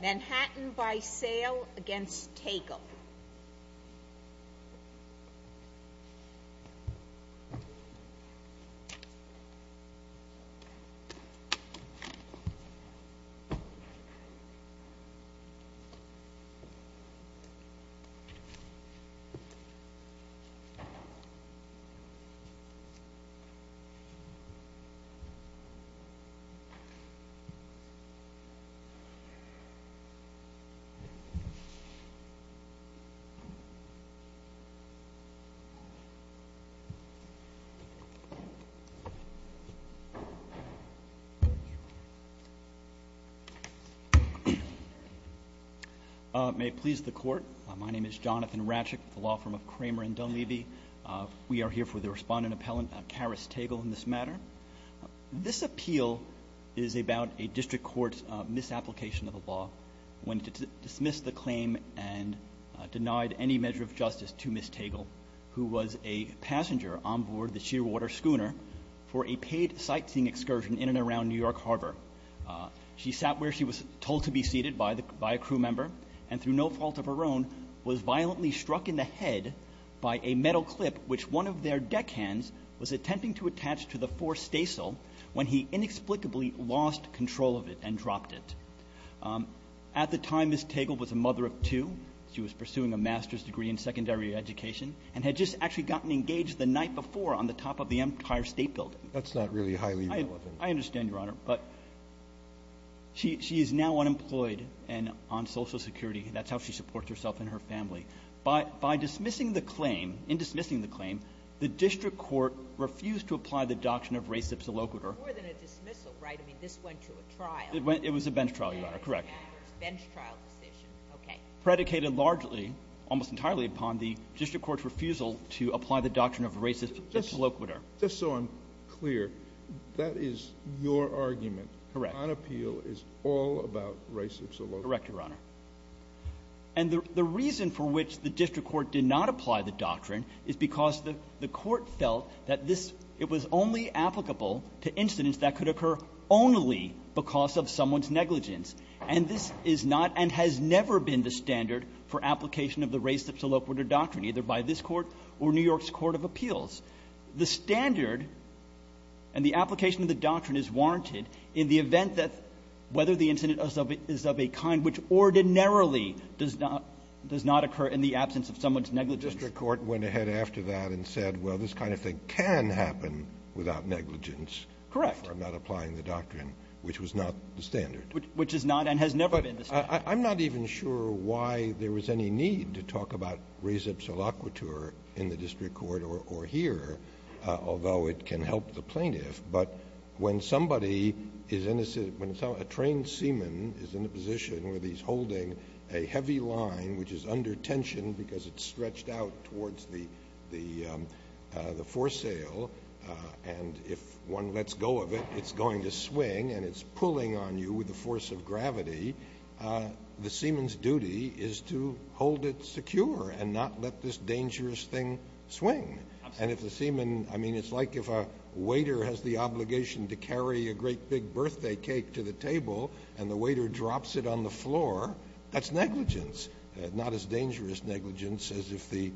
Manhattan By Sail, Inc. v. Tagle May it please the Court, my name is Jonathan Ratchick with the law firm of Kramer & Dunleavy. We are here for the respondent appellant, Karis Tagle, in this matter. This appeal is about a district court's misapplication of a law when it dismissed the claim and denied any measure of justice to Ms. Tagle, who was a passenger on board the Shearwater schooner for a paid sightseeing excursion in and around New York Harbor. She sat where she was told to be seated by a crew member and, through no fault of her own, was violently struck in the head by a metal clip, which one of their deckhands was attempting to attach to the fore stasel when he inexplicably lost control of it and dropped it. At the time, Ms. Tagle was a mother of two. She was pursuing a master's degree in secondary education and had just actually gotten engaged the night before on the top of the Empire State Building. That's not really highly relevant. I understand, Your Honor. But she is now unemployed and on Social Security. That's how she supports herself and her family. By dismissing the claim, in dismissing the claim, the district court refused to apply the doctrine of res ipsa loquitur. More than a dismissal, right? I mean, this went to a trial. It was a bench trial, Your Honor. Correct. Bench trial decision. Okay. Predicated largely, almost entirely, upon the district court's refusal to apply the doctrine of res ipsa loquitur. Just so I'm clear, that is your argument. Correct. Nonappeal is all about res ipsa loquitur. Correct, Your Honor. And the reason for which the district court did not apply the doctrine is because the court felt that this was only applicable to incidents that could occur only because of someone's negligence. And this is not and has never been the standard for application of the res ipsa loquitur doctrine, either by this Court or New York's Court of Appeals. The standard and the application of the doctrine is warranted in the event that whether the incident is of a kind which ordinarily does not occur in the absence of someone's negligence. The district court went ahead after that and said, well, this kind of thing can happen without negligence. Correct. If I'm not applying the doctrine, which was not the standard. Which is not and has never been the standard. But I'm not even sure why there was any need to talk about res ipsa loquitur in the district court or here, although it can help the plaintiff. But when somebody is innocent, when a trained seaman is in a position where he's holding a heavy line which is under tension because it's stretched out towards the foresail, and if one lets go of it, it's going to swing and it's pulling on you with the force of gravity, the seaman's duty is to hold it secure and not let this dangerous thing swing. Absolutely. And if the seaman, I mean, it's like if a waiter has the obligation to carry a great big birthday cake to the table and the waiter drops it on the floor, that's negligence. Not as dangerous negligence as if the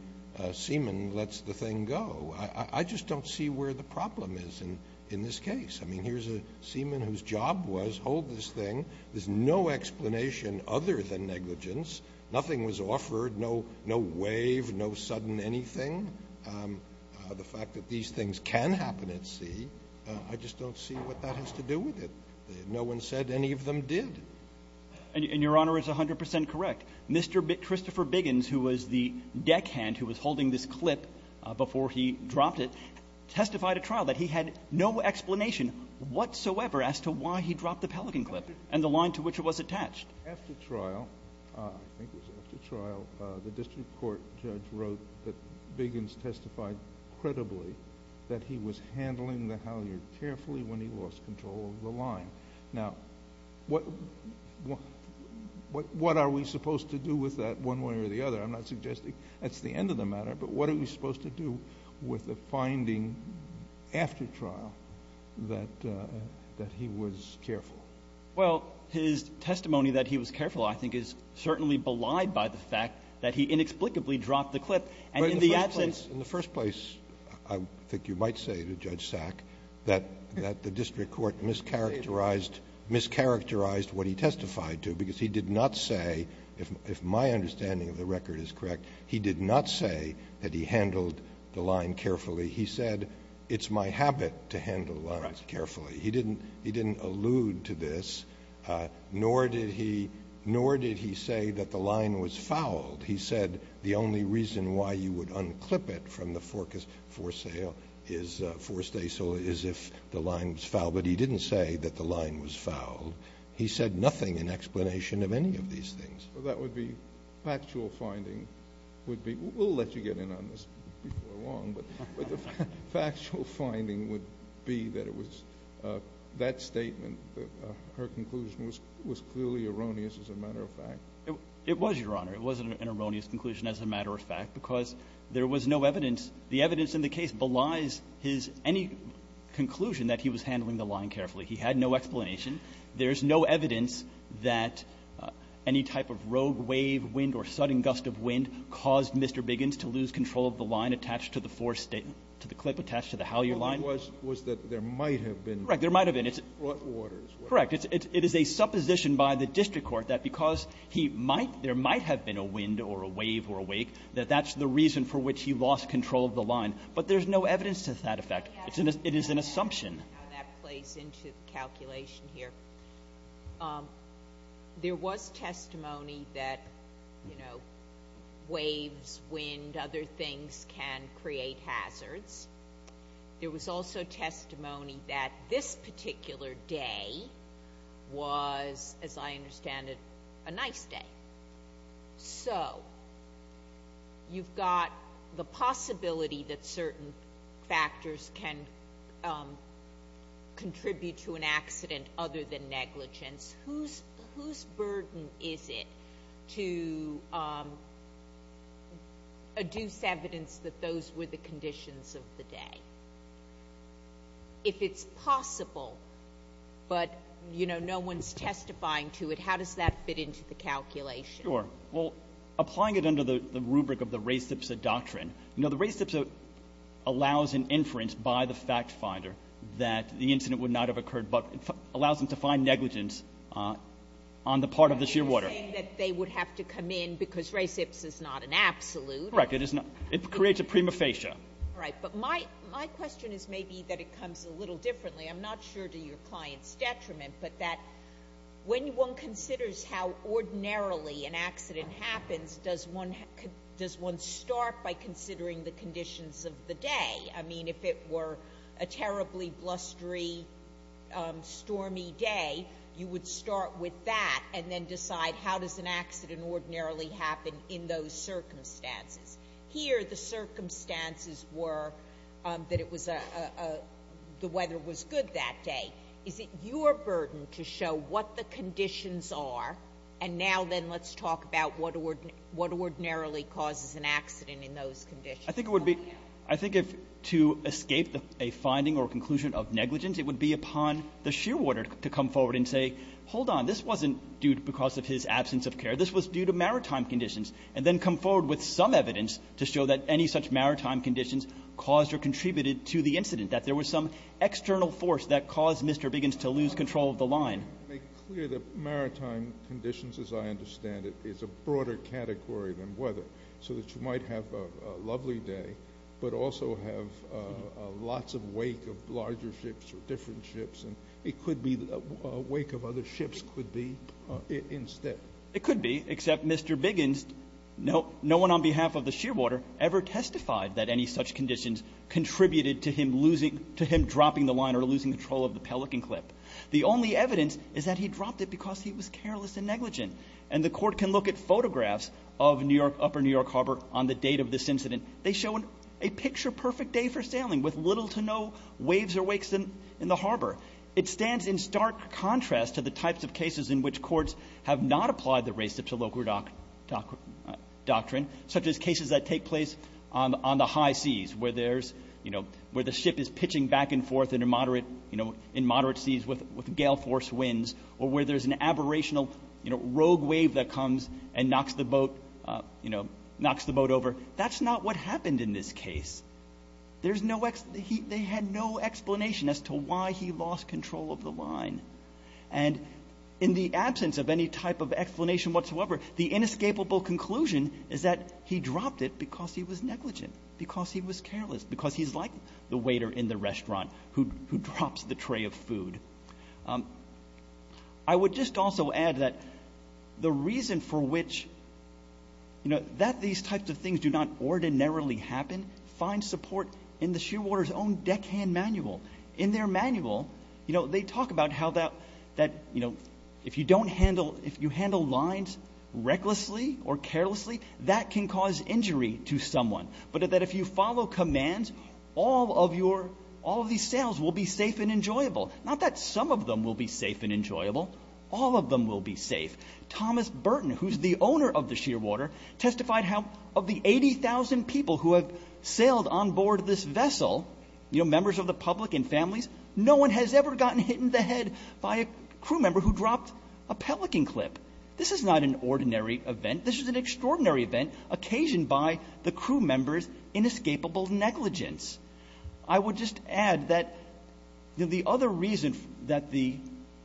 seaman lets the thing go. I just don't see where the problem is in this case. I mean, here's a seaman whose job was hold this thing. There's no explanation other than negligence. Nothing was offered. No wave. No sudden anything. The fact that these things can happen at sea, I just don't see what that has to do with it. No one said any of them did. And Your Honor is 100 percent correct. Mr. Christopher Biggins, who was the deckhand who was holding this clip before he dropped it, testified at trial that he had no explanation whatsoever as to why he dropped the pelican clip and the line to which it was attached. After trial, I think it was after trial, the district court judge wrote that Biggins testified credibly that he was handling the halyard carefully when he lost control of the line. Now, what are we supposed to do with that one way or the other? I'm not suggesting that's the end of the matter, but what are we supposed to do with the finding after trial that he was careful? Well, his testimony that he was careful, I think, is certainly belied by the fact that he inexplicably dropped the clip. And in the absence of the line, he was careful. But in the first place, I think you might say to Judge Sack that the district court mischaracterized what he testified to because he did not say, if my understanding of the record is correct, he did not say that he handled the line carefully. He said, it's my habit to handle the line carefully. He didn't allude to this, nor did he say that the line was foul. He said the only reason why you would unclip it from the forcas, for sale, is if the line was foul. But he didn't say that the line was foul. He said nothing in explanation of any of these things. Well, that would be factual finding would be we'll let you get in on this before long, but the factual finding would be that it was that statement, her conclusion was clearly erroneous as a matter of fact. It was, Your Honor. It was an erroneous conclusion as a matter of fact because there was no evidence the evidence in the case belies his any conclusion that he was handling the line carefully. He had no explanation. There's no evidence that any type of rogue wave, wind, or sudden gust of wind caused Mr. Biggins to lose control of the line attached to the force statement, to the clip attached to the Halyard line. It was that there might have been. Correct. There might have been. It's a supposition by the district court that because he might, there might have been a wind or a wave or a wake, that that's the reason for which he lost control of the line. But there's no evidence to that effect. It is an assumption. Let me see how that plays into the calculation here. There was testimony that, you know, waves, wind, other things can create hazards. There was also testimony that this particular day was, as I understand it, a nice day. So you've got the possibility that certain factors can contribute to an accident other than negligence. Whose burden is it to adduce evidence that those were the conditions of the day? If it's possible, but, you know, no one's testifying to it, how does that fit into the calculation? Sure. Well, applying it under the rubric of the res ipsa doctrine, you know, the res ipsa allows an inference by the fact finder that the incident would not have occurred but allows them to find negligence on the part of the shear water. You're saying that they would have to come in because res ipsa is not an absolute. Correct. It creates a prima facie. All right. But my question is maybe that it comes a little differently. I'm not sure to your client's detriment, but that when one considers how ordinarily an accident happens, does one start by considering the conditions of the day? I mean, if it were a terribly blustery, stormy day, you would start with that and then decide how does an accident ordinarily happen in those circumstances. Here the circumstances were that it was a the weather was good that day. Is it your burden to show what the conditions are, and now then let's talk about what ordinarily causes an accident in those conditions? I think it would be to escape a finding or conclusion of negligence, it would be upon the shear water to come forward and say, hold on, this wasn't due because of his absence of care. This was due to maritime conditions. And then come forward with some evidence to show that any such maritime conditions caused or contributed to the incident, that there was some external force that caused Mr. Biggins to lose control of the line. To make clear, the maritime conditions, as I understand it, is a broader category than weather, so that you might have a lovely day, but also have lots of wake of larger ships or different ships, and it could be a wake of other ships could be instead. It could be, except Mr. Biggins, no one on behalf of the shear water ever testified that any such conditions contributed to him losing, to him dropping the line or losing control of the pelican clip. The only evidence is that he dropped it because he was careless and negligent. And the court can look at photographs of New York, Upper New York Harbor on the date of this incident. They show a picture-perfect day for sailing with little to no waves or wakes in the harbor. It stands in stark contrast to the types of cases in which courts have not applied the race to local doctrine, such as cases that take place on the high seas, where there's, you know, where the ship is pitching back and forth in a moderate, you know, in moderate seas with gale force winds, or where there's an aberrational, you know, rogue wave that comes and knocks the boat, you know, knocks the boat over. That's not what happened in this case. There's no, they had no explanation as to why he lost control of the line. And in the absence of any type of explanation whatsoever, the inescapable conclusion is that he dropped it because he was negligent, because he was careless, because he's like the waiter in the restaurant who drops the tray of food. I would just also add that the reason for which, you know, that these types of things do not ordinarily happen, find support in the Shearwater's own deckhand manual. In their manual, you know, they talk about how that, you know, if you don't handle, if you handle lines recklessly or carelessly, that can cause injury to someone. But that if you follow commands, all of your, all of these sails will be safe and enjoyable. Not that some of them will be safe and enjoyable. All of them will be safe. Thomas Burton, who's the owner of the Shearwater, testified how of the 80,000 people who have sailed on board this vessel, you know, members of the public and families, no one has ever gotten hit in the head by a crew member who dropped a pelican clip. This is not an ordinary event. This is an extraordinary event occasioned by the crew member's inescapable negligence. I would just add that, you know, the other reason that the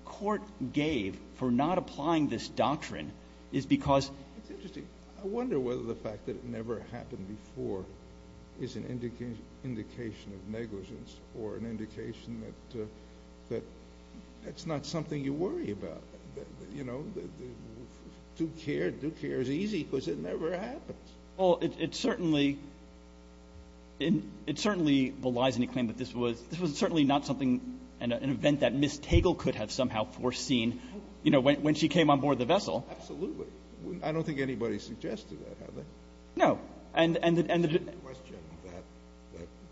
court gave for not applying this doctrine is because. It's interesting. I wonder whether the fact that it never happened before is an indication of negligence or an indication that that's not something you worry about. You know, do care, do care is easy because it never happens. Well, it certainly, it certainly belies any claim that this was, this was certainly not something, an event that Miss Tagle could have somehow foreseen, you know, when she came on board the vessel. Absolutely. I don't think anybody suggested that, have they? No. And the question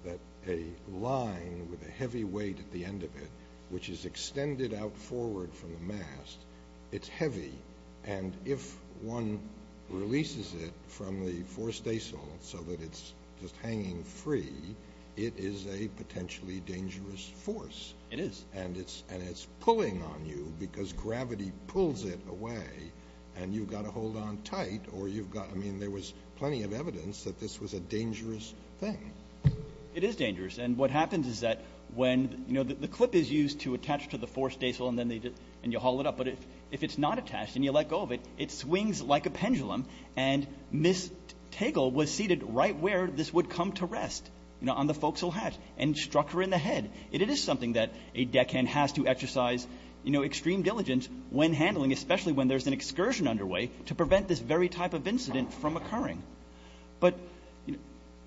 that a line with a heavy weight at the end of it, which is extended out forward from the mast, it's heavy. And if one releases it from the fore staysail so that it's just hanging free, it is a potentially dangerous force. It is. And it's, and it's pulling on you because gravity pulls it away and you've got to hold on tight or you've got, I mean, there was plenty of evidence that this was a dangerous thing. It is dangerous. And what happens is that when, you know, the clip is used to attach to the fore staysail and then you haul it up. But if it's not attached and you let go of it, it swings like a pendulum. And Miss Tagle was seated right where this would come to rest, you know, on the axle hatch and struck her in the head. It is something that a deckhand has to exercise, you know, extreme diligence when handling, especially when there's an excursion underway, to prevent this very type of incident from occurring. But, you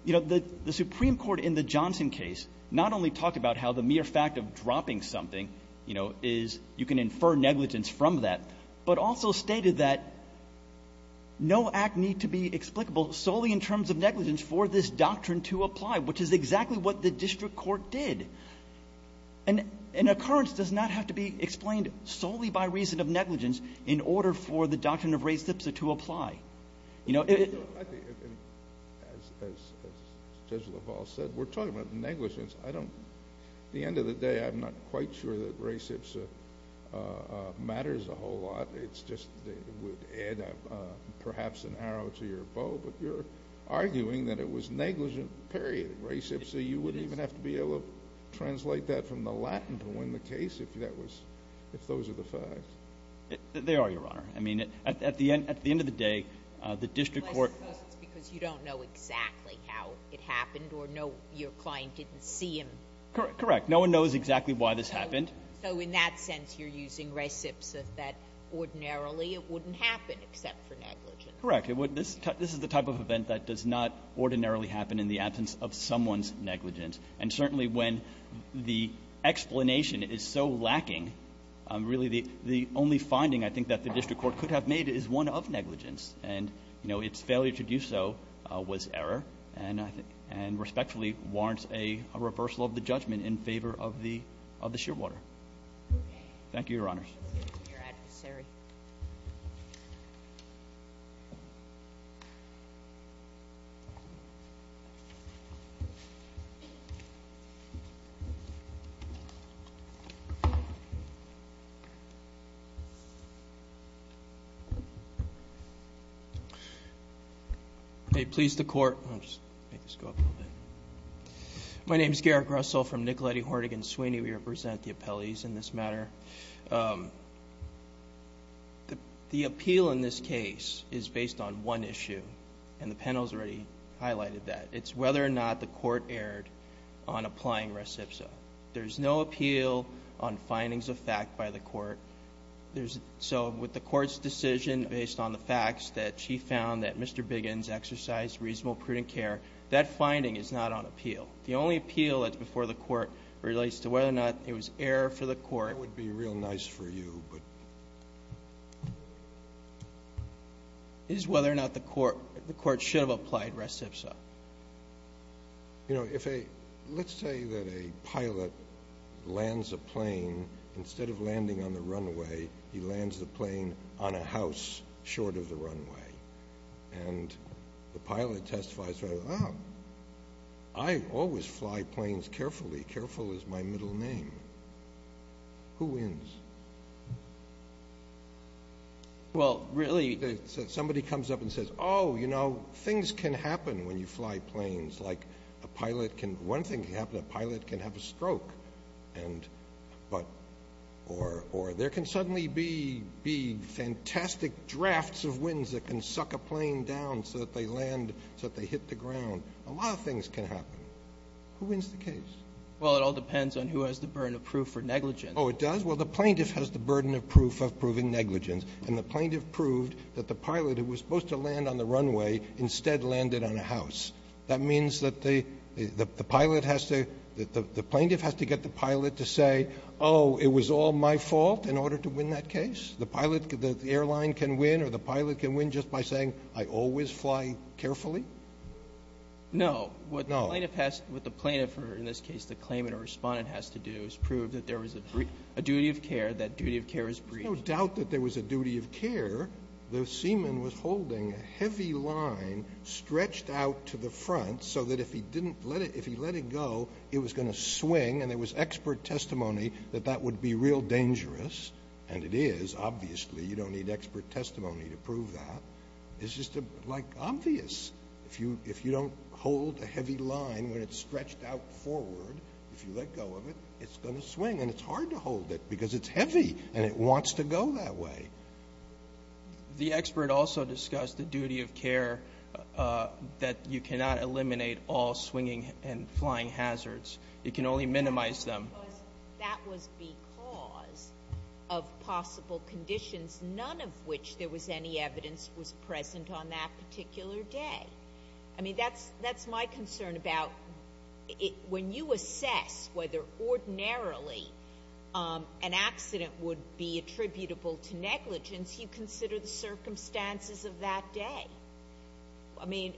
know, the Supreme Court in the Johnson case not only talked about how the mere fact of dropping something, you know, is you can infer negligence from that, but also stated that no act need to be explicable solely in terms of what the district court did. An occurrence does not have to be explained solely by reason of negligence in order for the doctrine of res ipsa to apply. You know, it — Kennedy. As Judge LaValle said, we're talking about negligence. I don't — at the end of the day, I'm not quite sure that res ipsa matters a whole lot. It's just — it would add perhaps an arrow to your bow, but you're arguing that it was negligent, period. Res ipsa, you wouldn't even have to be able to translate that from the Latin to win the case if that was — if those are the facts. They are, Your Honor. I mean, at the end of the day, the district court — Well, I suppose it's because you don't know exactly how it happened or your client didn't see him. Correct. No one knows exactly why this happened. So in that sense, you're using res ipsa, that ordinarily it wouldn't happen except for negligence. Correct. Okay. This is the type of event that does not ordinarily happen in the absence of someone's negligence. And certainly when the explanation is so lacking, really the only finding I think that the district court could have made is one of negligence. And, you know, its failure to do so was error and respectfully warrants a reversal of the judgment in favor of the — of the shearwater. Thank you, Your Honors. Your adversary. May it please the Court — I'll just make this go up a little bit. My name is Garrett Grussell from Nicoletti, Hornig & Sweeney. We represent the appellees in this matter. The appeal in this case is based on one issue, and the panel's already highlighted that. It's whether or not the court erred on applying res ipsa. There's no appeal on findings of fact by the court. So with the court's decision based on the facts that she found that Mr. Biggins exercised reasonable, prudent care, that finding is not on appeal. The only appeal that's before the court relates to whether or not it was error for the court — That would be real nice for you, but — It is whether or not the court — the court should have applied res ipsa. You know, if a — let's say that a pilot lands a plane. Instead of landing on the runway, he lands the plane on a house short of the runway. And the pilot testifies, oh, I always fly planes carefully. Careful is my middle name. Who wins? Well, really — Somebody comes up and says, oh, you know, things can happen when you fly planes. Like a pilot can — one thing can happen, a pilot can have a stroke. And — but — or there can suddenly be fantastic drafts of winds that can suck a plane down so that they land — so that they hit the ground. A lot of things can happen. Who wins the case? Well, it all depends on who has the burden of proof for negligence. Oh, it does? Well, the plaintiff has the burden of proof of proving negligence. And the plaintiff proved that the pilot who was supposed to land on the runway instead landed on a house. That means that the pilot has to — the plaintiff has to get the pilot to say, oh, it was all my fault in order to win that case? The pilot — the airline can win or the pilot can win just by saying, I always fly carefully? No. No. What the plaintiff has — what the plaintiff or, in this case, the claimant or respondent has to do is prove that there was a duty of care, that duty of care is brief. There's no doubt that there was a duty of care. The seaman was holding a heavy line stretched out to the front so that if he didn't let it — if he let it go, it was going to swing. And there was expert testimony that that would be real dangerous. And it is. Obviously, you don't need expert testimony to prove that. It's just like obvious. If you don't hold a heavy line when it's stretched out forward, if you let go of it, it's going to swing. And it's hard to hold it because it's heavy and it wants to go that way. The expert also discussed the duty of care that you cannot eliminate all swinging and flying hazards. It can only minimize them. That was because of possible conditions, none of which there was any evidence was on that particular day. I mean, that's my concern about when you assess whether ordinarily an accident would be attributable to negligence, you consider the circumstances of that day. I mean,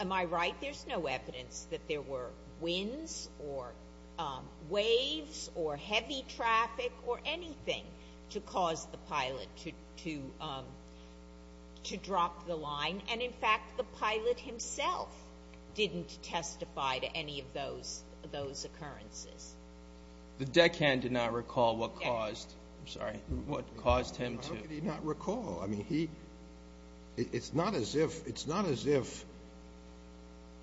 am I right? There's no evidence that there were winds or waves or heavy traffic or anything to cause the pilot to drop the line. And, in fact, the pilot himself didn't testify to any of those occurrences. The deckhand did not recall what caused him to. How could he not recall? I mean, it's not as if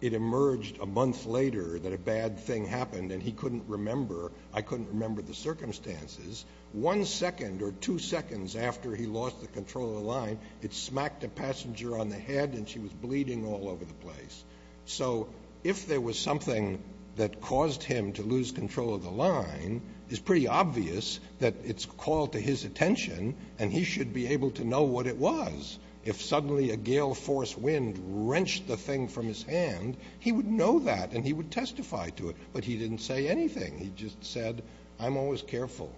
it emerged a month later that a bad thing happened and he couldn't remember, I couldn't remember the circumstances. One second or two seconds after he lost the control of the line, it smacked a passenger on the head and she was bleeding all over the place. So if there was something that caused him to lose control of the line, it's pretty obvious that it's called to his attention and he should be able to know what it was. If suddenly a gale force wind wrenched the thing from his hand, he would know that and he would testify to it. But he didn't say anything. He just said, I'm always careful.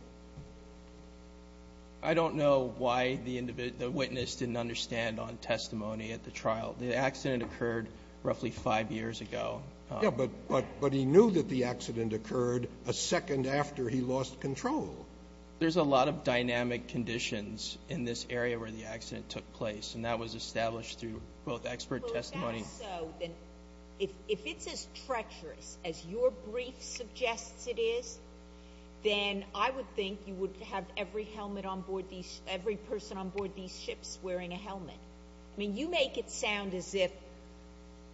I don't know why the witness didn't understand on testimony at the trial. The accident occurred roughly five years ago. Yeah, but he knew that the accident occurred a second after he lost control. There's a lot of dynamic conditions in this area where the accident took place, and that was established through both expert testimony. If it's as treacherous as your brief suggests it is, then I would think you would have every person on board these ships wearing a helmet. I mean, you make it sound as if,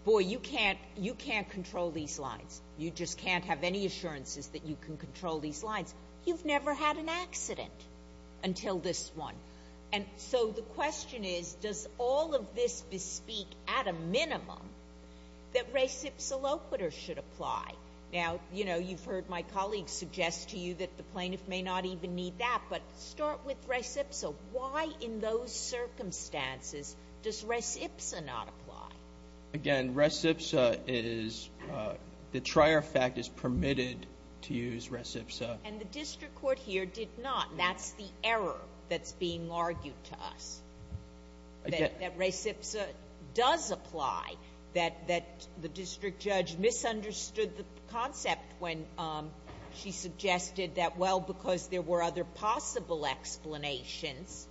boy, you can't control these lines. You just can't have any assurances that you can control these lines. You've never had an accident until this one. And so the question is, does all of this bespeak at a minimum that res ipsa loquitur should apply? Now, you know, you've heard my colleague suggest to you that the plaintiff may not even need that, but start with res ipsa. Why in those circumstances does res ipsa not apply? Again, res ipsa is the trier fact is permitted to use res ipsa. And the district court here did not. That's the error that's being argued to us, that res ipsa does apply, that the district judge misunderstood the concept when she suggested that, well, because there were other possible explanations,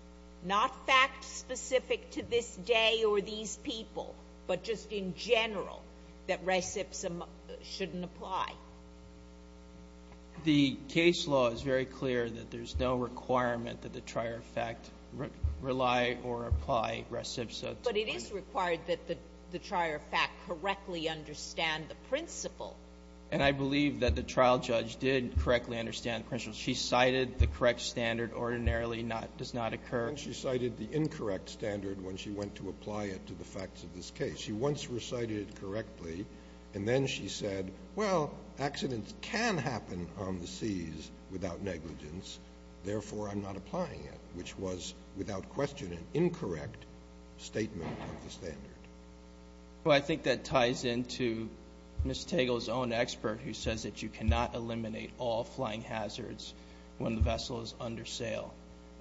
not fact specific to this day or these people, but just in general, that res ipsa shouldn't apply. The case law is very clear that there's no requirement that the trier fact rely or apply res ipsa. But it is required that the trier fact correctly understand the principle. And I believe that the trial judge did correctly understand the principle. She cited the correct standard, ordinarily does not occur. And she cited the incorrect standard when she went to apply it to the facts of this case. She once recited it correctly. And then she said, well, accidents can happen on the seas without negligence, therefore I'm not applying it, which was, without question, an incorrect statement of the standard. Well, I think that ties into Ms. Tegel's own expert, who says that you cannot eliminate all flying hazards when the vessel is under sail.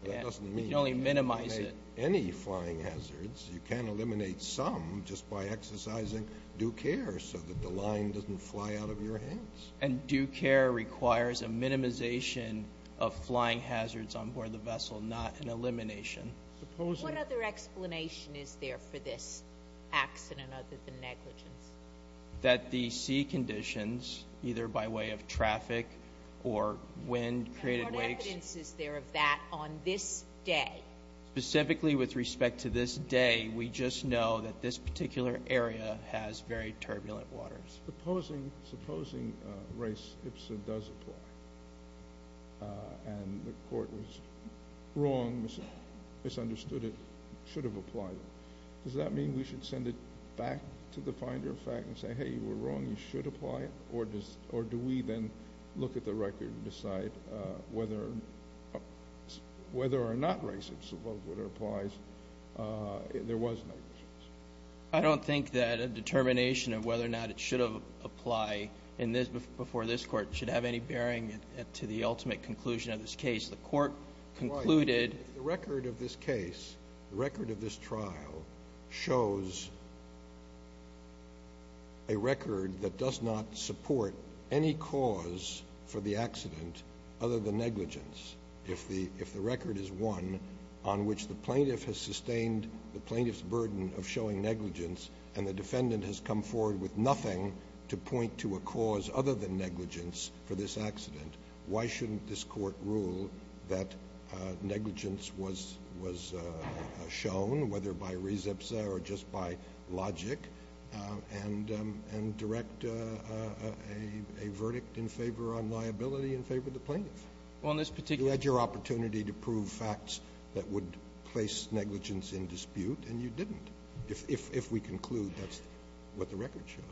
That doesn't mean you can eliminate any flying hazards. You can eliminate some just by exercising due care so that the line doesn't fly out of your hands. And due care requires a minimization of flying hazards on board the vessel, not an elimination. What other explanation is there for this accident other than negligence? That the sea conditions, either by way of traffic or wind created waves. And what evidence is there of that on this day? Specifically with respect to this day, we just know that this particular area has very turbulent waters. Supposing race ipsa does apply and the court was wrong, misunderstood it, should have applied it. Does that mean we should send it back to the finder of fact and say, hey, you were wrong, you should apply it? Or do we then look at the record and decide whether or not race ipsa applies? There was negligence. I don't think that a determination of whether or not it should have applied before this court should have any bearing to the ultimate conclusion of this case. If the record of this case, the record of this trial shows a record that does not support any cause for the accident other than negligence, if the record is one on which the plaintiff has sustained the plaintiff's burden of showing negligence and the defendant has come forward with nothing to point to a cause other than negligence for this accident, why shouldn't this court rule that negligence was shown, whether by race ipsa or just by logic, and direct a verdict in favor of liability in favor of the plaintiff? You had your opportunity to prove facts that would place negligence in dispute, and you didn't. If we conclude, that's what the record shows.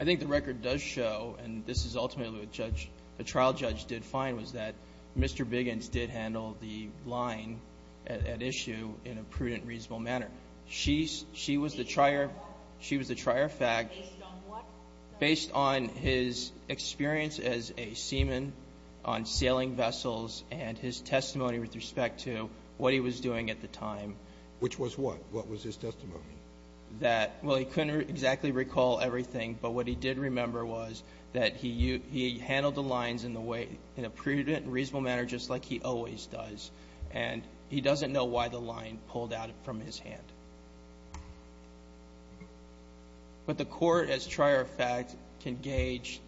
I think the record does show, and this is ultimately what the trial judge did find, was that Mr. Biggins did handle the line at issue in a prudent, reasonable manner. She was the trier of fact. Based on what? Based on his experience as a seaman on sailing vessels and his testimony with respect to what he was doing at the time. Which was what? What was his testimony? That, well, he couldn't exactly recall everything, but what he did remember was that he handled the lines in a prudent, reasonable manner just like he always does, and he doesn't know why the line pulled out from his hand. But the Court, as trier of fact, can gauge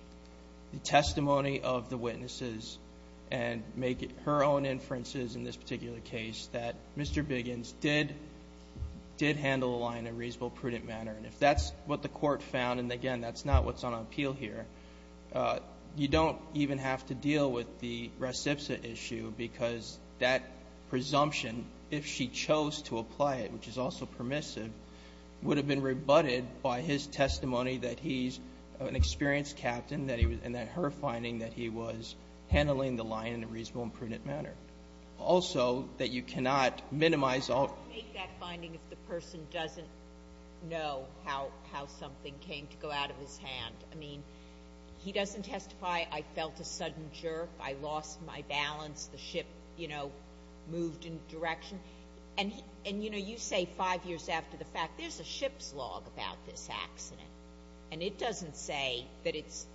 the testimony of the witnesses and make inferences in this particular case that Mr. Biggins did handle the line in a reasonable, prudent manner. And if that's what the Court found, and again, that's not what's on appeal here, you don't even have to deal with the reciprocity issue because that presumption, if she chose to apply it, which is also permissive, would have been rebutted by his testimony that he's an experienced captain and that her finding that he was handling the line in a prudent manner. Also, that you cannot minimize all of it. Make that finding if the person doesn't know how something came to go out of his hand. I mean, he doesn't testify, I felt a sudden jerk, I lost my balance, the ship, you know, moved in direction. And, you know, you say five years after the fact, there's a ship's log about this accident, and it doesn't say that it's,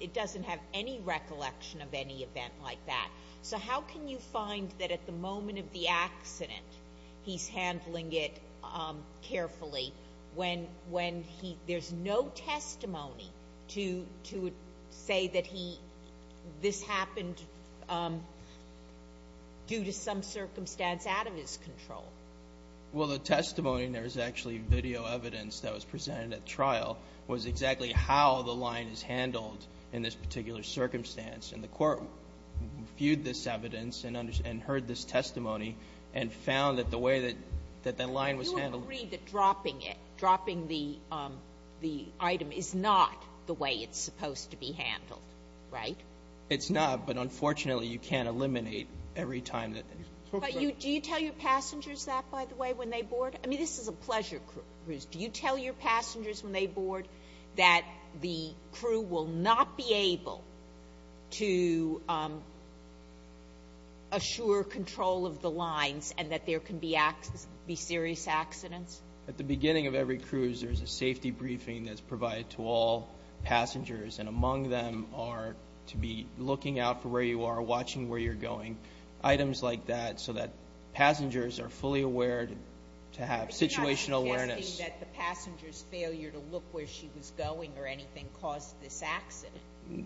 it doesn't have any recollection of any event like that. So how can you find that at the moment of the accident, he's handling it carefully when he, there's no testimony to say that he, this happened due to some circumstance out of his control? Well, the testimony, and there was actually video evidence that was presented at trial, was exactly how the line is handled in this particular circumstance and the court viewed this evidence and heard this testimony and found that the way that the line was handled. You agree that dropping it, dropping the item is not the way it's supposed to be handled, right? It's not, but unfortunately you can't eliminate every time that. Do you tell your passengers that, by the way, when they board? I mean, this is a pleasure cruise. Do you tell your passengers when they board that the crew will not be able to assure control of the lines and that there can be serious accidents? At the beginning of every cruise, there's a safety briefing that's provided to all passengers, and among them are to be looking out for where you are, watching where you're going, items like that so that passengers are fully aware to have situational awareness. You're saying that the passenger's failure to look where she was going or anything caused this accident?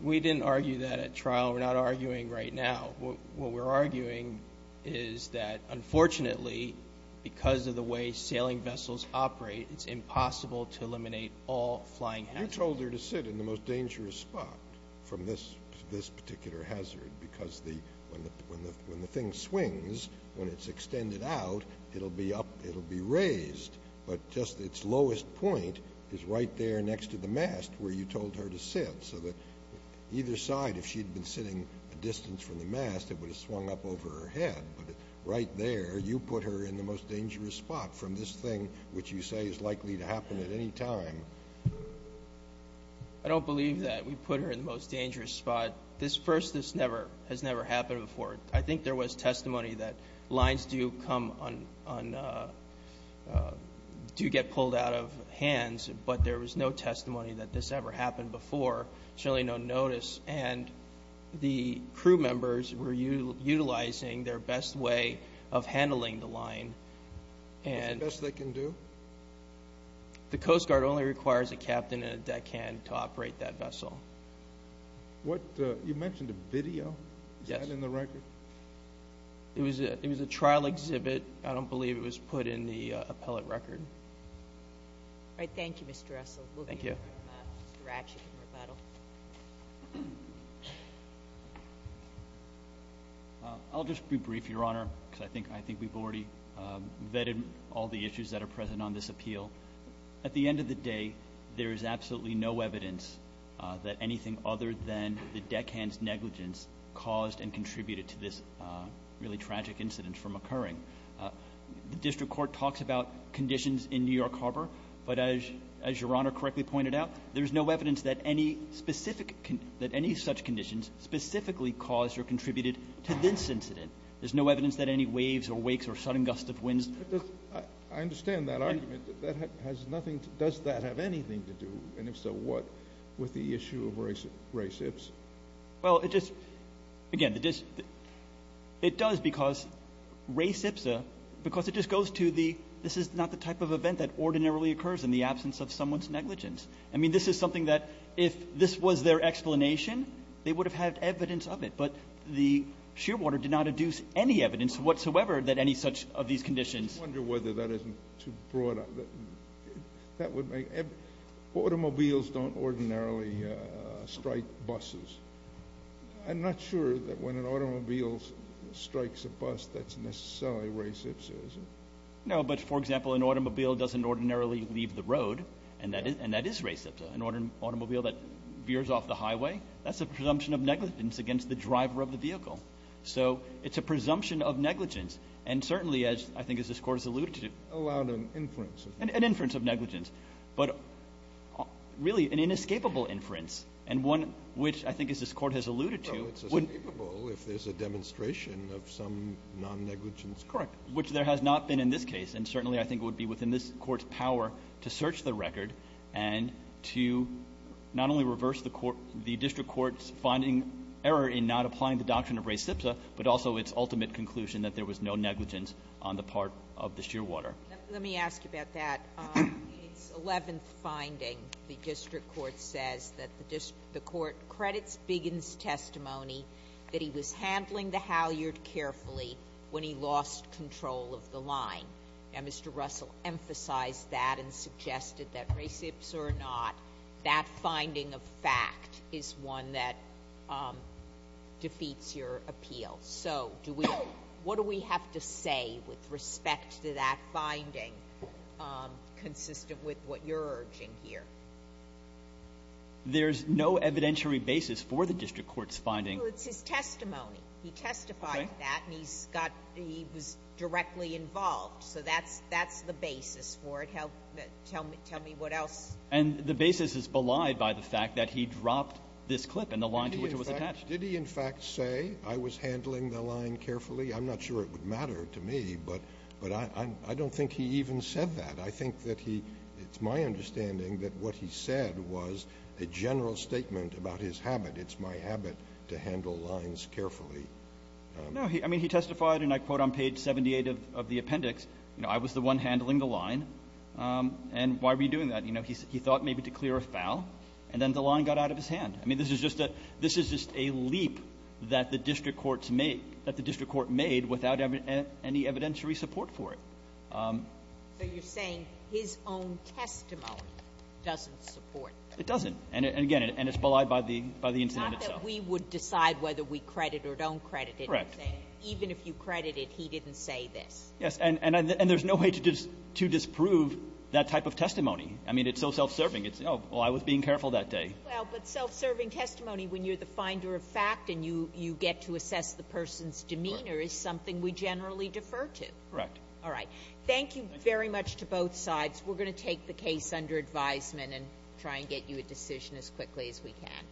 We didn't argue that at trial. We're not arguing right now. What we're arguing is that, unfortunately, because of the way sailing vessels operate, it's impossible to eliminate all flying hazards. You told her to sit in the most dangerous spot from this particular hazard because when the thing swings, when it's extended out, it'll be up, it'll be raised, but just its lowest point is right there next to the mast where you told her to sit so that either side, if she'd been sitting a distance from the mast, it would have swung up over her head. But right there, you put her in the most dangerous spot from this thing, which you say is likely to happen at any time. I don't believe that we put her in the most dangerous spot. First, this has never happened before. I think there was testimony that lines do get pulled out of hands, but there was no testimony that this ever happened before. There's really no notice. And the crew members were utilizing their best way of handling the line. What's the best they can do? The Coast Guard only requires a captain and a deckhand to operate that vessel. You mentioned a video. Yes. Is that in the record? It was a trial exhibit. I don't believe it was put in the appellate record. All right. Thank you, Mr. Russell. Thank you. Mr. Ratchett from Rebuttal. I'll just be brief, Your Honor, because I think we've already vetted all the issues that are present on this appeal. At the end of the day, there is absolutely no evidence that anything other than the deckhand's negligence caused and contributed to this really tragic incident from occurring. The district court talks about conditions in New York Harbor, but as Your Honor correctly pointed out, there's no evidence that any specific – that any such conditions specifically caused or contributed to this incident. There's no evidence that any waves or wakes or sudden gusts of wind. I understand that argument. Does that have anything to do, and if so, what, with the issue of race ipsa? Well, it just – again, it does because race ipsa – because it just goes to the this is not the type of event that ordinarily occurs in the absence of someone's negligence. I mean, this is something that if this was their explanation, they would have had evidence of it, but the shearwater did not induce any evidence whatsoever that any such of these conditions. I wonder whether that isn't too broad. Automobiles don't ordinarily strike buses. I'm not sure that when an automobile strikes a bus, that's necessarily race ipsa, is it? No, but, for example, an automobile doesn't ordinarily leave the road, and that is race ipsa. An automobile that veers off the highway, that's a presumption of negligence against the driver of the vehicle. So it's a presumption of negligence, and certainly as I think as this Court has alluded to. Allowed an inference. An inference of negligence, but really an inescapable inference, and one which I think as this Court has alluded to. Well, it's inescapable if there's a demonstration of some non-negligence. Correct. Which there has not been in this case, and certainly I think it would be within this Court's power to search the record and to not only reverse the court – the district court's finding error in not applying the doctrine of race ipsa, but also its ultimate conclusion that there was no negligence on the part of the shearwater. Let me ask you about that. It's 11th finding. The district court says that the court credits Biggin's testimony that he was handling the halyard carefully when he lost control of the line. Now, Mr. Russell emphasized that and suggested that race ipsa or not, that finding of fact is one that defeats your appeal. So do we – what do we have to say with respect to that finding, consistent with what you're urging here? There's no evidentiary basis for the district court's finding. Well, it's his testimony. He testified to that, and he's got – he was directly involved. So that's the basis for it. Tell me what else. And the basis is belied by the fact that he dropped this clip and the line to which it was attached. Did he in fact say, I was handling the line carefully? I'm not sure it would matter to me, but I don't think he even said that. I think that he – it's my understanding that what he said was a general statement about his habit. It's my habit to handle lines carefully. No. I mean, he testified, and I quote on page 78 of the appendix, you know, I was the one handling the line. And why were you doing that? You know, he thought maybe to clear a foul, and then the line got out of his hand. I mean, this is just a – this is just a leap that the district courts made – that the district court made without any evidentiary support for it. So you're saying his own testimony doesn't support that? It doesn't. And again, it's belied by the incident itself. Not that we would decide whether we credit or don't credit anything. Correct. Even if you credit it, he didn't say this. Yes. And there's no way to disprove that type of testimony. I mean, it's so self-serving. It's, oh, well, I was being careful that day. Well, but self-serving testimony when you're the finder of fact and you get to assess the person's demeanor is something we generally defer to. Correct. All right. Thank you very much to both sides. We're going to take the case under advisement and try and get you a decision as quickly as we can.